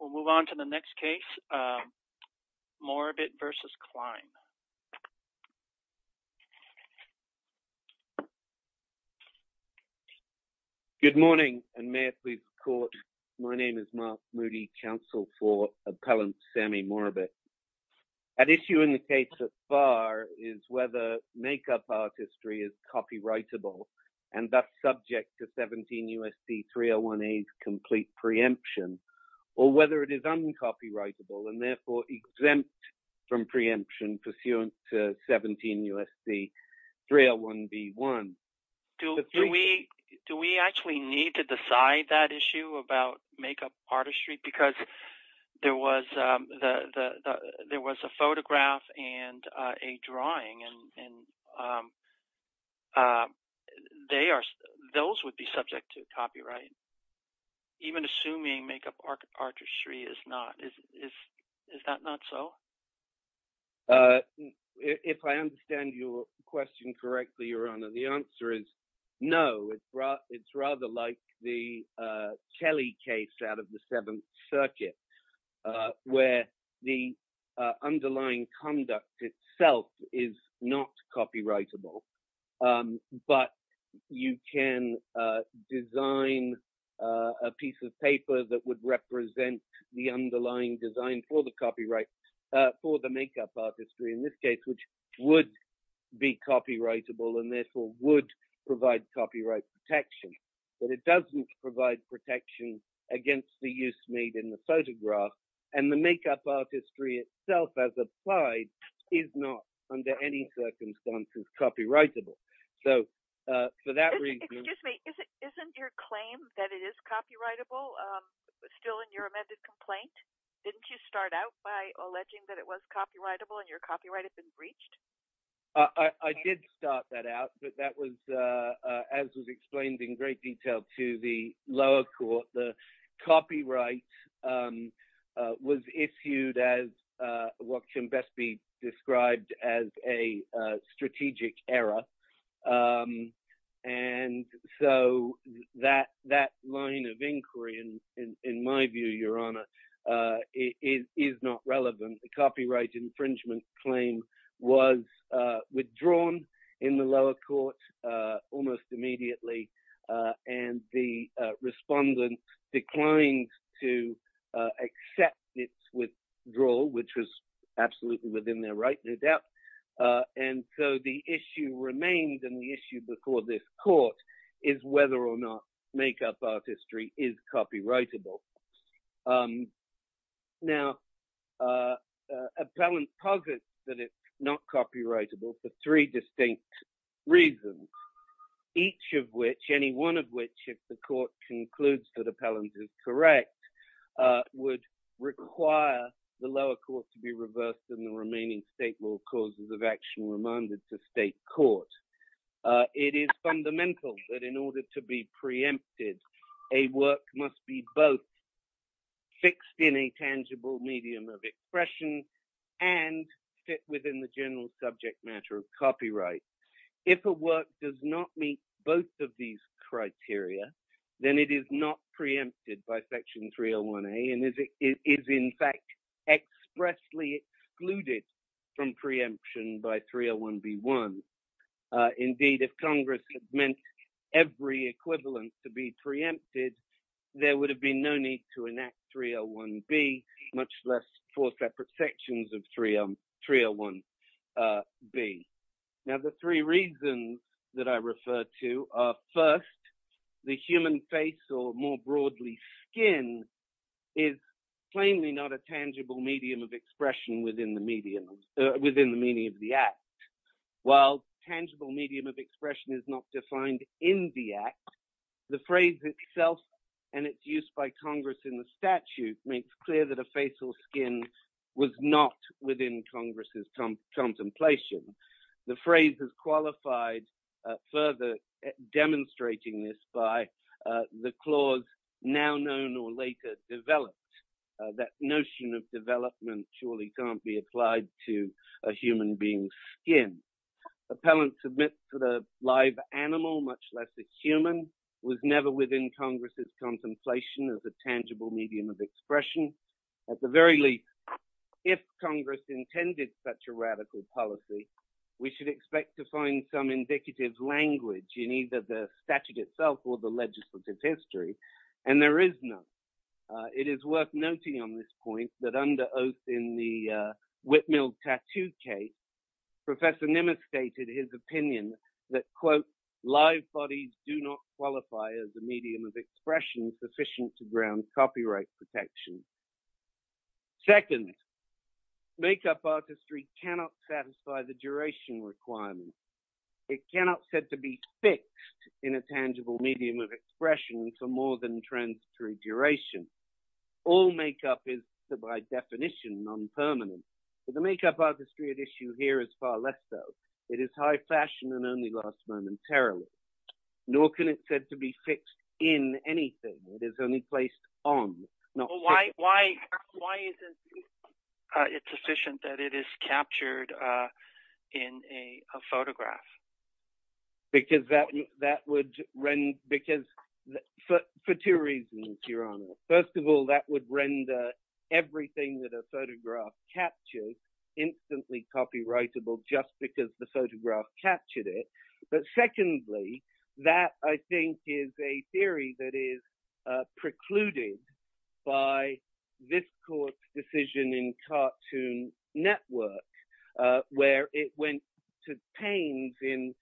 We'll move on to the next case, Mourabit v. Klein. Good morning, and may it please the court, my name is Mark Moody, counsel for appellant Sammy Mourabit. At issue in the case so far is whether makeup artistry is copyrightable and that's subject to 17 U.S.C. 301A's complete preemption, or whether it is uncopyrightable and therefore exempt from preemption pursuant to 17 U.S.C. 301B1. Do we actually need to decide that issue about makeup artistry? Because there was a photograph and a drawing, and those would be subject to copyright, even assuming makeup artistry is not. Is that not so? If I understand your question correctly, Your Honor, the answer is no. It's rather like the Kelly case out of the Seventh Circuit, where the underlying conduct itself is not copyrightable. But you can design a piece of paper that would represent the underlying design for the copyright for the makeup artistry in this case, which would be copyrightable and therefore would provide copyright protection. But it doesn't provide protection against the use made in the photograph, and the makeup artistry itself as applied is not under any circumstances copyrightable. So, for that reason... Excuse me, isn't your claim that it is copyrightable still in your amended complaint? Didn't you start out by alleging that it was copyrightable and your copyright had been breached? I did start that out, but that was, as was explained in great detail to the lower court, the copyright was issued as what can best be described as a strategic error. And so that line of inquiry, in my view, Your Honor, is not relevant. The copyright infringement claim was withdrawn in the lower court almost immediately, and the respondent declined to accept its withdrawal, which was absolutely within their right, no doubt. And so the issue remains, and the issue before this court is whether or not makeup artistry is copyrightable. Now, appellant posits that it's not copyrightable for three distinct reasons, each of which, any one of which, if the court concludes that appellant is correct, would require the lower court to be reversed and the remaining state law causes of action remanded to state court. It is fundamental that in order to be preempted, a work must be both fixed in a tangible medium of expression and fit within the general subject matter of copyright. If a work does not meet both of these criteria, then it is not preempted by Section 301A and is in fact expressly excluded from preemption by 301B1. Indeed, if Congress had meant every equivalent to be preempted, there would have been no need to enact 301B, much less four separate sections of 301B. The three reasons that I refer to are, first, the human face, or more broadly, skin, is plainly not a tangible medium of expression within the meaning of the act. While tangible medium of expression is not defined in the act, the phrase itself and its use by Congress in the statute makes clear that a face or skin was not within Congress's contemplation. The phrase is qualified further demonstrating this by the clause, now known or later developed, that notion of development surely can't be applied to a human being's skin. Appellant submits to the live animal, much less the human, was never within Congress's contemplation as a tangible medium of expression. At the very least, if Congress intended such a radical policy, we should expect to find some indicative language in either the statute itself or the legislative history, and there is none. It is worth noting on this point that under oath in the Whitmilled Tattoo case, Professor Nimitz stated his opinion that, quote, live bodies do not qualify as a medium of expression sufficient to ground copyright protection. Second, make-up artistry cannot satisfy the duration requirement. It cannot be said to be fixed in a tangible medium of expression for more than transitory duration. All make-up is, by definition, non-permanent. The make-up artistry at issue here is far less so. It is high fashion and only lasts momentarily. Nor can it be said to be fixed in anything. It is only placed on. Why isn't it sufficient that it is captured in a photograph? Because that would—for two reasons, Your Honor. First of all, that would render everything that a photograph captures instantly copyrightable just because the photograph captured it. But secondly, that, I think, is a theory that is precluded by this court's decision in Cartoon Network where it went to pains in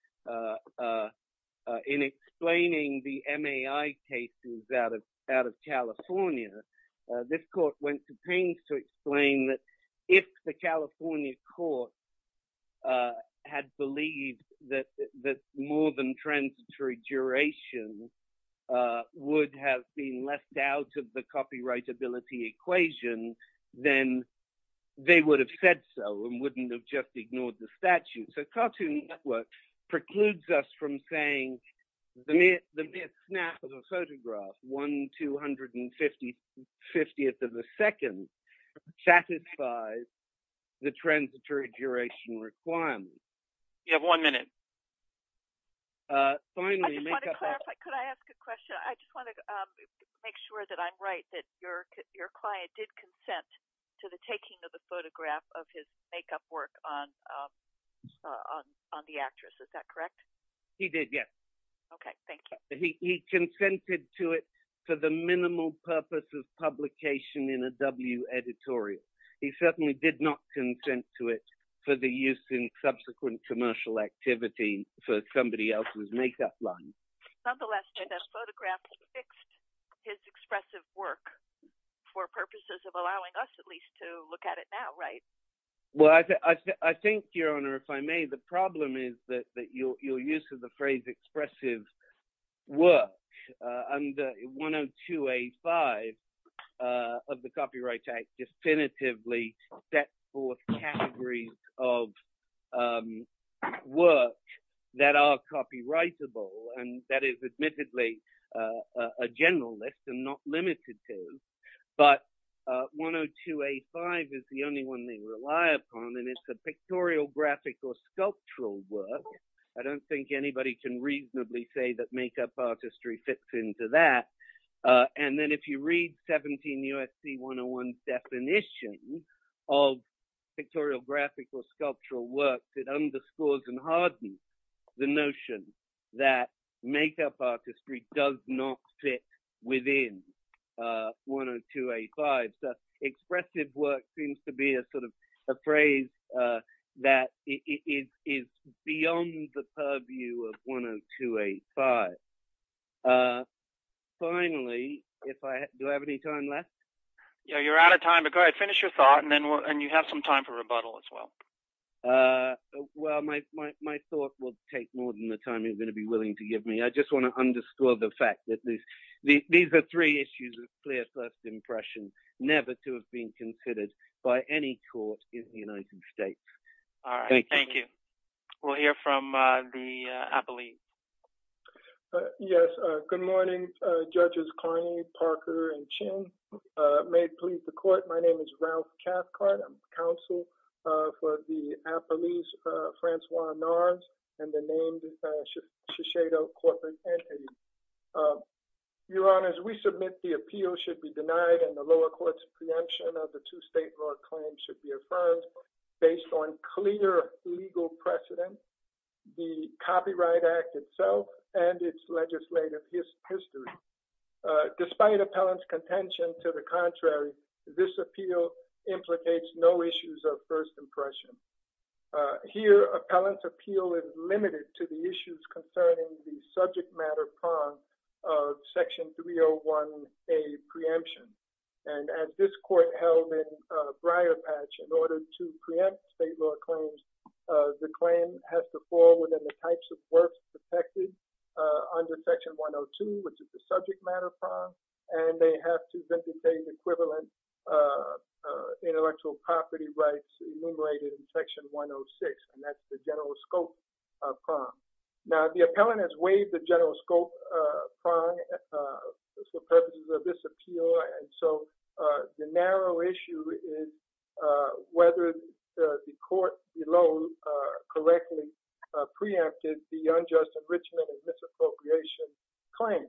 explaining the MAI cases out of California. This court went to pains to explain that if the California court had believed that more than transitory duration would have been left out of the copyrightability equation, then they would have said so and wouldn't have just ignored the statute. So Cartoon Network precludes us from saying the mere snap of a photograph, 1 250th of a second, satisfies the transitory duration requirement. You have one minute. Finally— I just want to clarify. Could I ask a question? I just want to make sure that I'm right, that your client did consent to the taking of the photograph of his make-up work on the actress. Is that correct? He did, yes. Okay, thank you. He consented to it for the minimal purpose of publication in a W editorial. He certainly did not consent to it for the use in subsequent commercial activity for somebody else's make-up line. Nonetheless, that photograph fixed his expressive work for purposes of allowing us, at least, to look at it now, right? Well, I think, Your Honor, if I may, the problem is that your use of the phrase expressive work under 102A5 of the Copyright Act definitively sets forth categories of work that are copyrightable, and that is admittedly a general list and not limited to. But 102A5 is the only one they rely upon, and it's a pictorial, graphic, or sculptural work. I don't think anybody can reasonably say that make-up artistry fits into that. And then if you read 17 U.S.C. 101's definition of pictorial, graphic, or sculptural work, it underscores and hardens the notion that make-up artistry does not fit within 102A5. Expressive work seems to be a phrase that is beyond the purview of 102A5. Finally, do I have any time left? Yeah, you're out of time, but go ahead. Finish your thought, and you have some time for rebuttal as well. Well, my thought will take more than the time you're going to be willing to give me. I just want to underscore the fact that these are three issues of clear first impression, never to have been considered by any court in the United States. All right. Thank you. We'll hear from the appellee. Yes. Good morning, Judges Carney, Parker, and Chin. May it please the court, my name is Ralph Cathcart. I'm counsel for the appellees, Francois Nars, and the named Shiseido corporate entity. Your Honors, we submit the appeal should be denied and the lower court's preemption of the two state law claims should be affirmed based on clear legal precedent, the Copyright Act itself, and its legislative history. Despite appellant's contention to the contrary, this appeal implicates no issues of first impression. Here, appellant's appeal is limited to the issues concerning the subject matter prong of Section 301A preemption. And as this court held in Briarpatch, in order to preempt state law claims, the claim has to fall within the types of works protected under Section 102, which is the subject matter prong, and they have to vindicate equivalent intellectual property rights enumerated in Section 106, and that's the general scope prong. Now, the appellant has waived the general scope prong for purposes of this appeal, and so the narrow issue is whether the court below correctly preempted the unjust enrichment and misappropriation claim.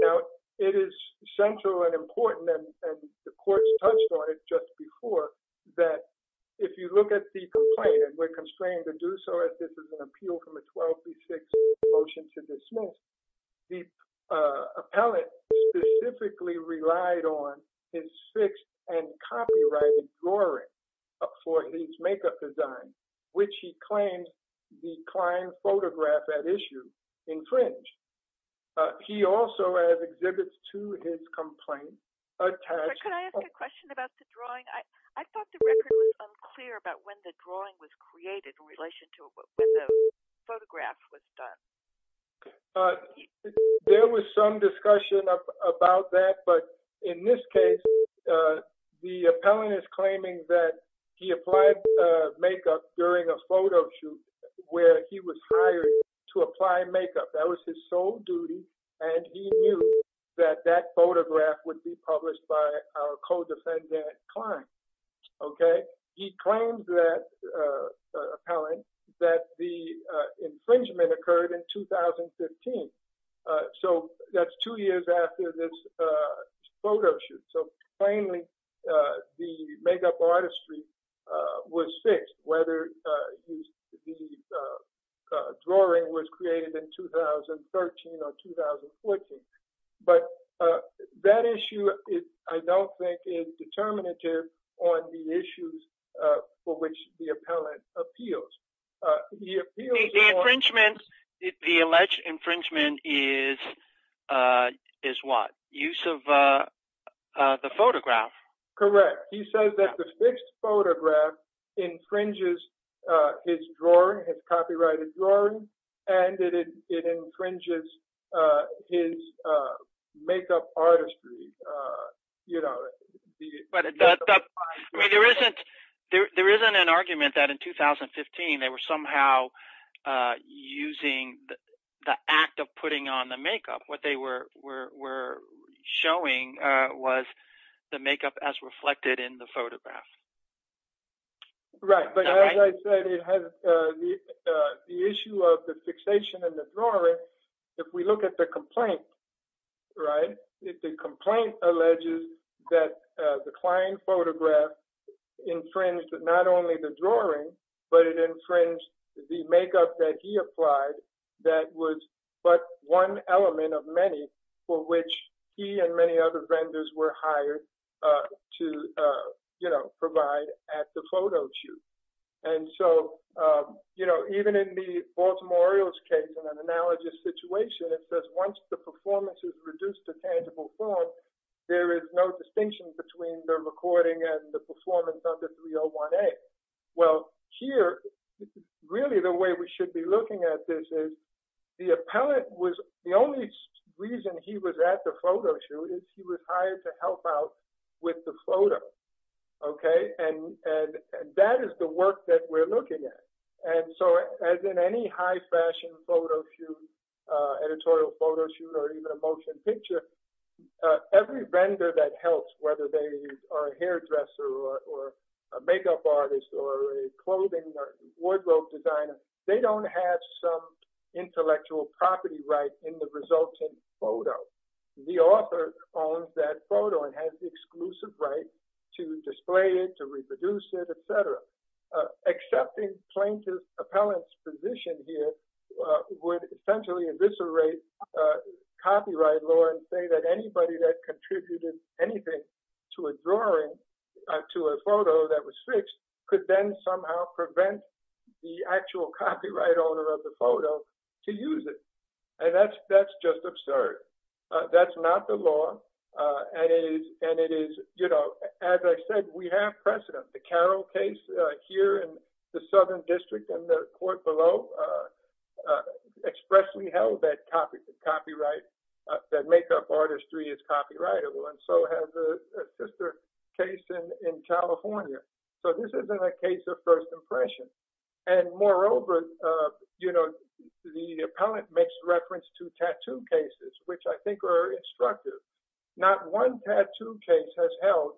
Now, it is central and important, and the court's touched on it just before, that if you look at the complaint, we're constrained to do so as this is an appeal from a 1236 motion to dismiss. The appellant specifically relied on his fixed and copyrighted drawing for his makeup design, which he claims the client photograph at issue infringed. He also, as exhibits to his complaint, attached... Can I ask a question about the drawing? I thought the record was unclear about when the drawing was created in relation to when the photograph was done. There was some discussion about that, but in this case, the appellant is claiming that he applied makeup during a photo shoot where he was hired to apply makeup. That was his sole duty, and he knew that that photograph would be published by our co-defendant client. He claims that, appellant, that the infringement occurred in 2015, so that's two years after this photo shoot. Claiming the makeup artistry was fixed, whether the drawing was created in 2013 or 2014, but that issue, I don't think, is determinative on the issues for which the appellant appeals. The alleged infringement is what? Use of the photograph? Correct. He says that the fixed photograph infringes his drawing, his copyrighted drawing, and it infringes his makeup artistry. There isn't an argument that in 2015 they were somehow using the act of putting on the makeup. What they were showing was the makeup as reflected in the photograph. Right, but as I said, the issue of the fixation in the drawing, if we look at the complaint, the complaint alleges that the client photograph infringed not only the drawing, but it infringed the makeup that he applied, that was but one element of many for which he and many other vendors were hired to provide at the photo shoot. Even in the Baltimore Orioles case, in an analogous situation, it says once the performance is reduced to tangible form, there is no distinction between the recording and the performance under 301A. Well, here, really the way we should be looking at this is the appellant was, the only reason he was at the photo shoot is he was hired to help out with the photo. And that is the work that we're looking at. And so, as in any high fashion photo shoot, editorial photo shoot, or even a motion picture, every vendor that helps, whether they are a hairdresser or a makeup artist or a clothing or wardrobe designer, they don't have some intellectual property right in the resultant photo. The author owns that photo and has the exclusive right to display it, to reproduce it, etc. Accepting plaintiff appellant's position here would essentially eviscerate copyright law and say that anybody that contributed anything to a drawing, to a photo that was fixed, could then somehow prevent the actual copyright owner of the photo to use it. And that's just absurd. That's not the law. And it is, you know, as I said, we have precedent. The Carroll case here in the Southern District in the court below expressly held that copyright, that makeup artistry is copyrightable, and so has a sister case in California. So this isn't a case of first impression. And moreover, you know, the appellant makes reference to tattoo cases, which I think are instructive. Not one tattoo case has held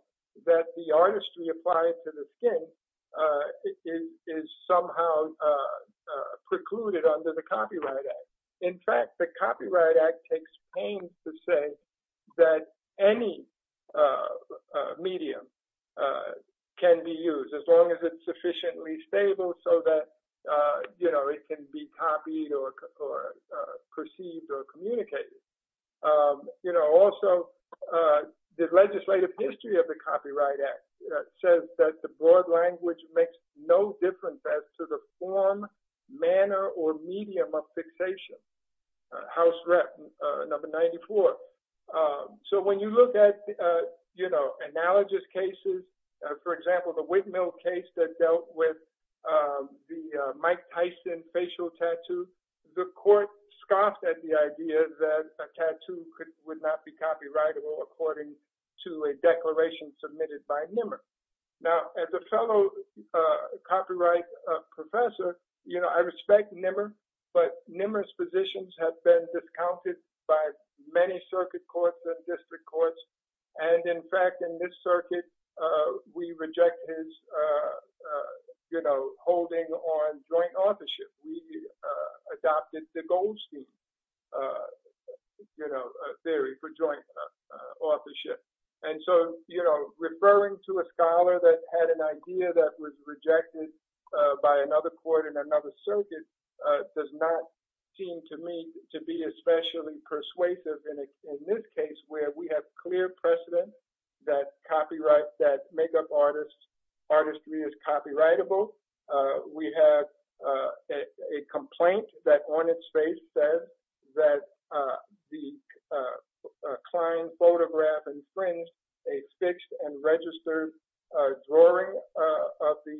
that the artistry applied to the skin is somehow precluded under the Copyright Act. In fact, the Copyright Act takes pains to say that any medium can be used as long as it's sufficiently stable so that, you know, it can be copied or perceived or communicated. You know, also the legislative history of the Copyright Act says that the broad language makes no difference as to the form, manner, or medium of fixation. House Rep. Number 94. So when you look at, you know, analogous cases, for example, the Whitmill case that dealt with the Mike Tyson facial tattoo, the court scoffed at the idea that a tattoo would not be copyrightable according to a declaration submitted by NMR. Now, as a fellow copyright professor, you know, I respect NMR, but NMR's positions have been discounted by many circuit courts and district courts. And in fact, in this circuit, we reject his, you know, holding on joint authorship. We adopted the Goldstein, you know, theory for joint authorship. And so, you know, referring to a scholar that had an idea that was rejected by another court in another circuit does not seem to me to be especially persuasive. In this case, where we have clear precedent that copyright, that makeup artistry is copyrightable, we have a complaint that on its face says that the client photograph infringes a fixed and registered drawing of the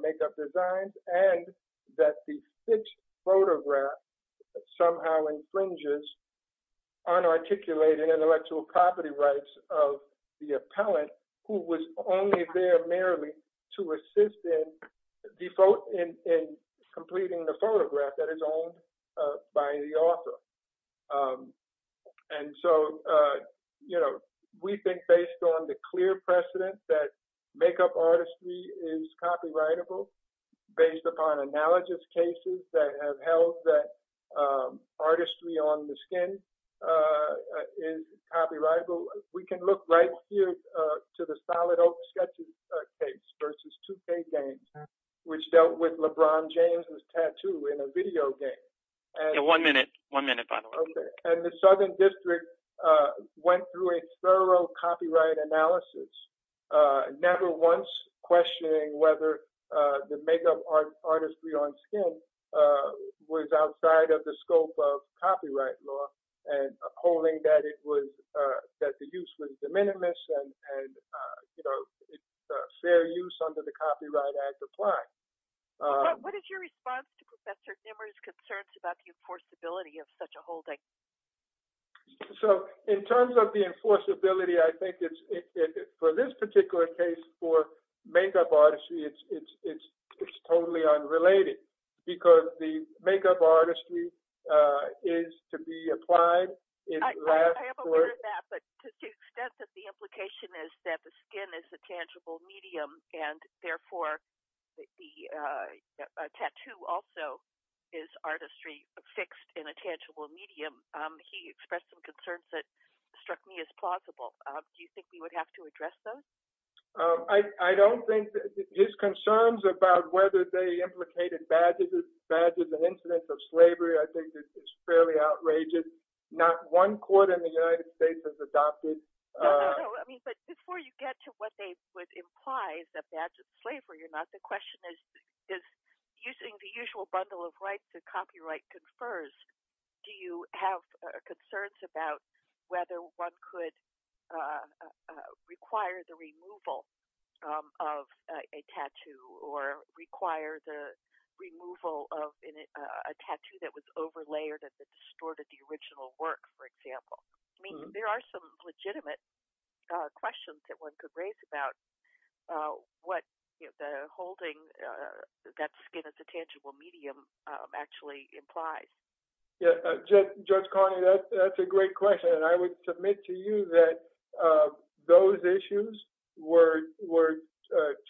makeup designs, and that the fixed photograph somehow infringes unarticulated intellectual property rights of the appellant who was only there merely to assist in completing the photograph that is owned by the author. And so, you know, we think based on the clear precedent that makeup artistry is copyrightable, based upon analogous cases that have held that artistry on the skin is copyrightable, we can look right here to the Solid Oak sketching case versus 2K Games, which dealt with LeBron James' tattoo in a video game. One minute. One minute, by the way. And the Southern District went through a thorough copyright analysis, never once questioning whether the makeup artistry on skin was outside of the scope of copyright law and upholding that it was, that the use was de minimis and, you know, fair use under the Copyright Act applied. What is your response to Professor Zimmer's concerns about the enforceability of such a holding? So in terms of the enforceability, I think it's, for this particular case, for makeup artistry, it's totally unrelated, because the makeup artistry is to be applied. I am aware of that, but to the extent that the implication is that the skin is a tangible medium, and therefore the tattoo also is artistry fixed in a tangible medium, he expressed some concerns that struck me as plausible. Do you think we would have to address those? I don't think, his concerns about whether they implicated badges, badges and incidents of slavery, I think is fairly outrageous. Not one court in the United States has adopted. But before you get to what they would imply, the badge of slavery or not, the question is, using the usual bundle of rights that copyright confers, do you have concerns about whether one could require the removal of a tattoo, or require the removal of a tattoo that was over-layered and distorted the original work, for example? I mean, there are some legitimate questions that one could raise about what holding that skin as a tangible medium actually implies. Judge Carney, that's a great question, and I would submit to you that those issues were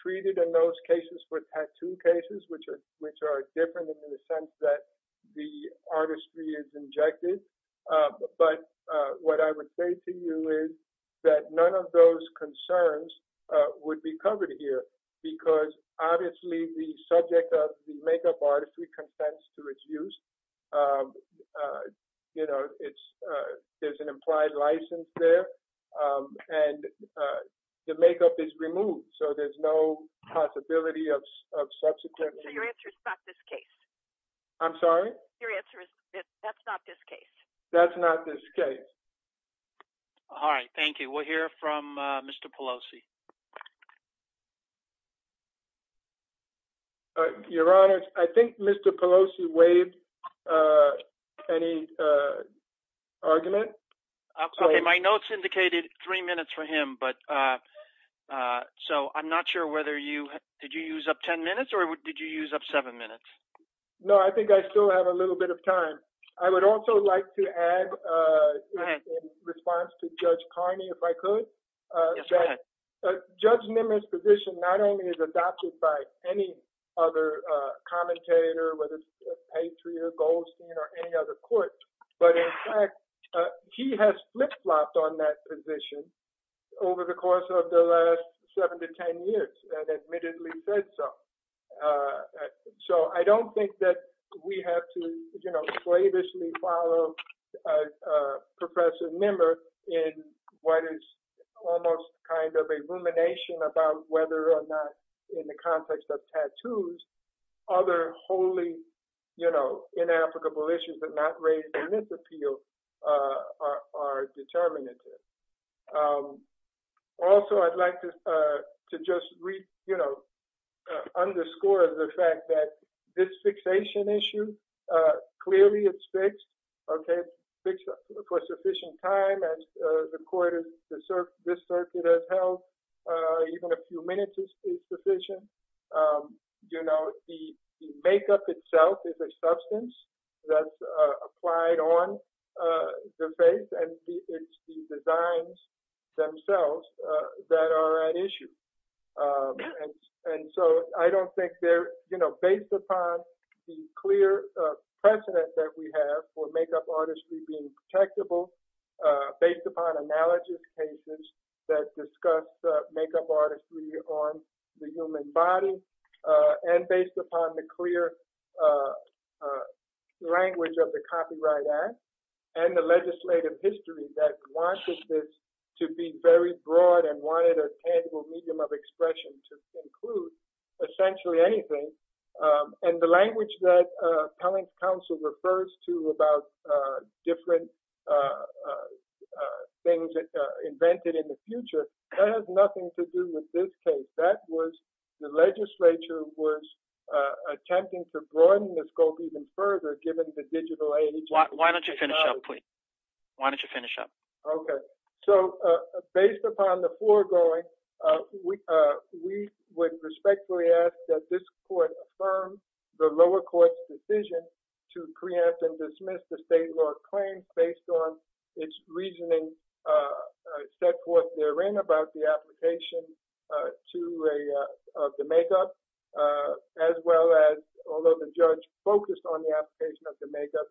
treated in those cases for tattoo cases, which are different in the sense that the artistry is injected. But what I would say to you is that none of those concerns would be covered here, because obviously the subject of the makeup artistry contends to reduce, you know, it's, there's an implied license there, and the makeup is removed, so there's no possibility of subsequent. So your answer is not this case? I'm sorry? Your answer is that that's not this case. That's not this case. All right, thank you. We'll hear from Mr. Pelosi. Your Honor, I think Mr. Pelosi waived any argument. Okay, my notes indicated three minutes for him, but, so I'm not sure whether you, did you use up ten minutes, or did you use up seven minutes? No, I think I still have a little bit of time. I would also like to add, in response to Judge Carney, if I could, that Judge Nimitz's position not only is adopted by any other commentator, whether it's Patriot, Goldstein, or any other court, but in fact, he has flip-flopped on that position over the course of the last seven to ten years, and admittedly said so. So I don't think that we have to, you know, slavishly follow Professor Nimitz in what is almost kind of a rumination about whether or not, in the context of tattoos, other wholly, you know, inapplicable issues that not raised in this appeal are determinative. Also, I'd like to just, you know, underscore the fact that this fixation issue, clearly it's fixed, okay, it's fixed for sufficient time, as the court has, this circuit has held, even a few minutes is sufficient. You know, the makeup itself is a substance that's applied on the face, and it's the designs themselves that are at issue. And so I don't think there, you know, based upon the clear precedent that we have for makeup artistry being protectable, based upon analogous cases that discuss makeup artistry on the human body, and based upon the clear language of the Copyright Act, and the legislative history that wanted this to be very broad, and wanted a tangible medium of expression to include essentially anything, and the language that Cullen's counsel refers to about different things invented in the future, that has nothing to do with this case. That was, the legislature was attempting to broaden the scope even further, given the digital age. Why don't you finish up, please? Why don't you finish up? Okay. So, based upon the foregoing, we would respectfully ask that this court affirm the lower court's decision to preempt and dismiss the state law claims based on its reasoning set forth therein about the application of the makeup, as well as, although the judge focused on the application of the makeup,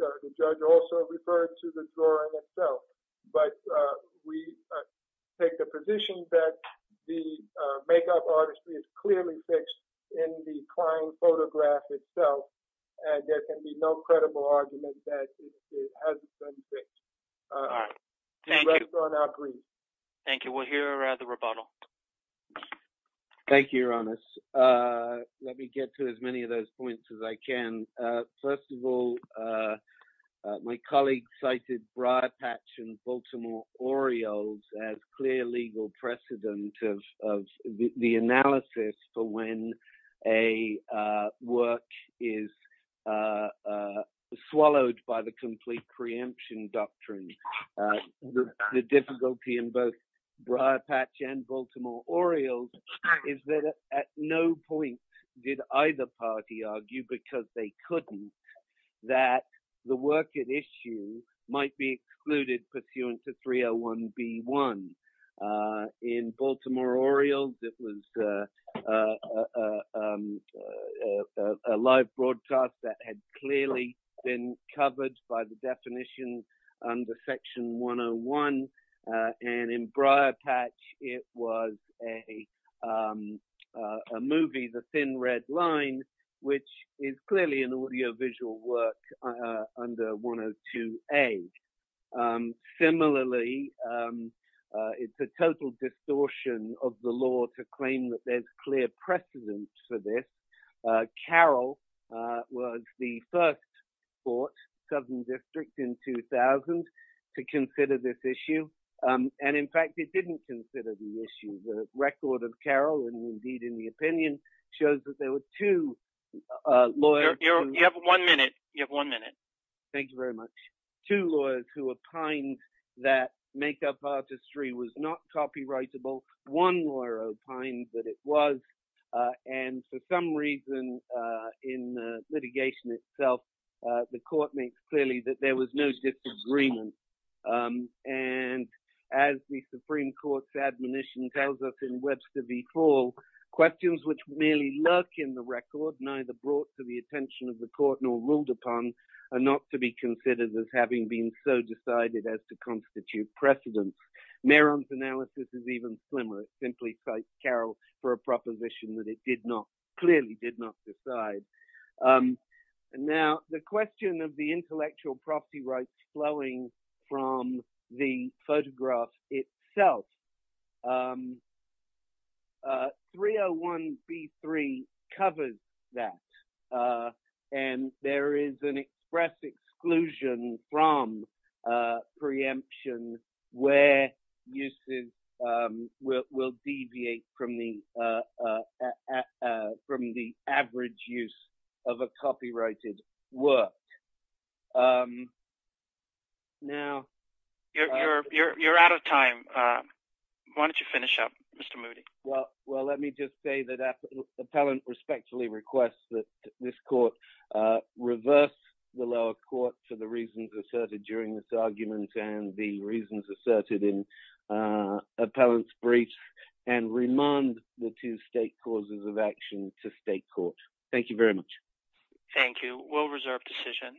the judge also referred to the drawing itself. But we take the position that the makeup artistry is clearly fixed in the client photograph itself, and there can be no credible argument that it hasn't been fixed. All right. Thank you. The rest are now agreed. Thank you. We'll hear the rebuttal. Thank you, Your Honor. Let me get to as many of those points as I can. First of all, my colleague cited Briarpatch and Baltimore Orioles as clear legal precedent of the analysis for when a work is swallowed by the complete preemption doctrine. The difficulty in both Briarpatch and Baltimore Orioles is that at no point did either party argue, because they couldn't, that the work at issue might be excluded pursuant to 301B1. In Baltimore Orioles, it was a live broadcast that had clearly been covered by the definition under Section 101. And in Briarpatch, it was a movie, The Thin Red Line, which is clearly an audiovisual work under 102A. Similarly, it's a total distortion of the law to claim that there's clear precedent for this. Carroll was the first court, Southern District, in 2000 to consider this issue. And in fact, it didn't consider the issue. The record of Carroll, and indeed in the opinion, shows that there were two lawyers. You have one minute. You have one minute. Thank you very much. Two lawyers who opined that makeup artistry was not copyrightable. One lawyer opined that it was. And for some reason in litigation itself, the court makes clearly that there was no disagreement. And as the Supreme Court's admonition tells us in Webster v. Fall, questions which merely lurk in the record, neither brought to the attention of the court nor ruled upon, are not to be considered as having been so decided as to constitute precedent. Mehron's analysis is even slimmer. It simply cites Carroll for a proposition that it did not, clearly did not decide. Now, the question of the intellectual property rights flowing from the photograph itself. 301b3 covers that. And there is an express exclusion from preemption where uses will deviate from the average use of a copyrighted work. You're out of time. Why don't you finish up, Mr. Moody? Well, let me just say that Appellant respectfully requests that this court reverse the lower court for the reasons asserted during this argument and the reasons asserted in Appellant's brief and remand the two state causes of action to state court. Thank you very much. Thank you. We'll reserve decision.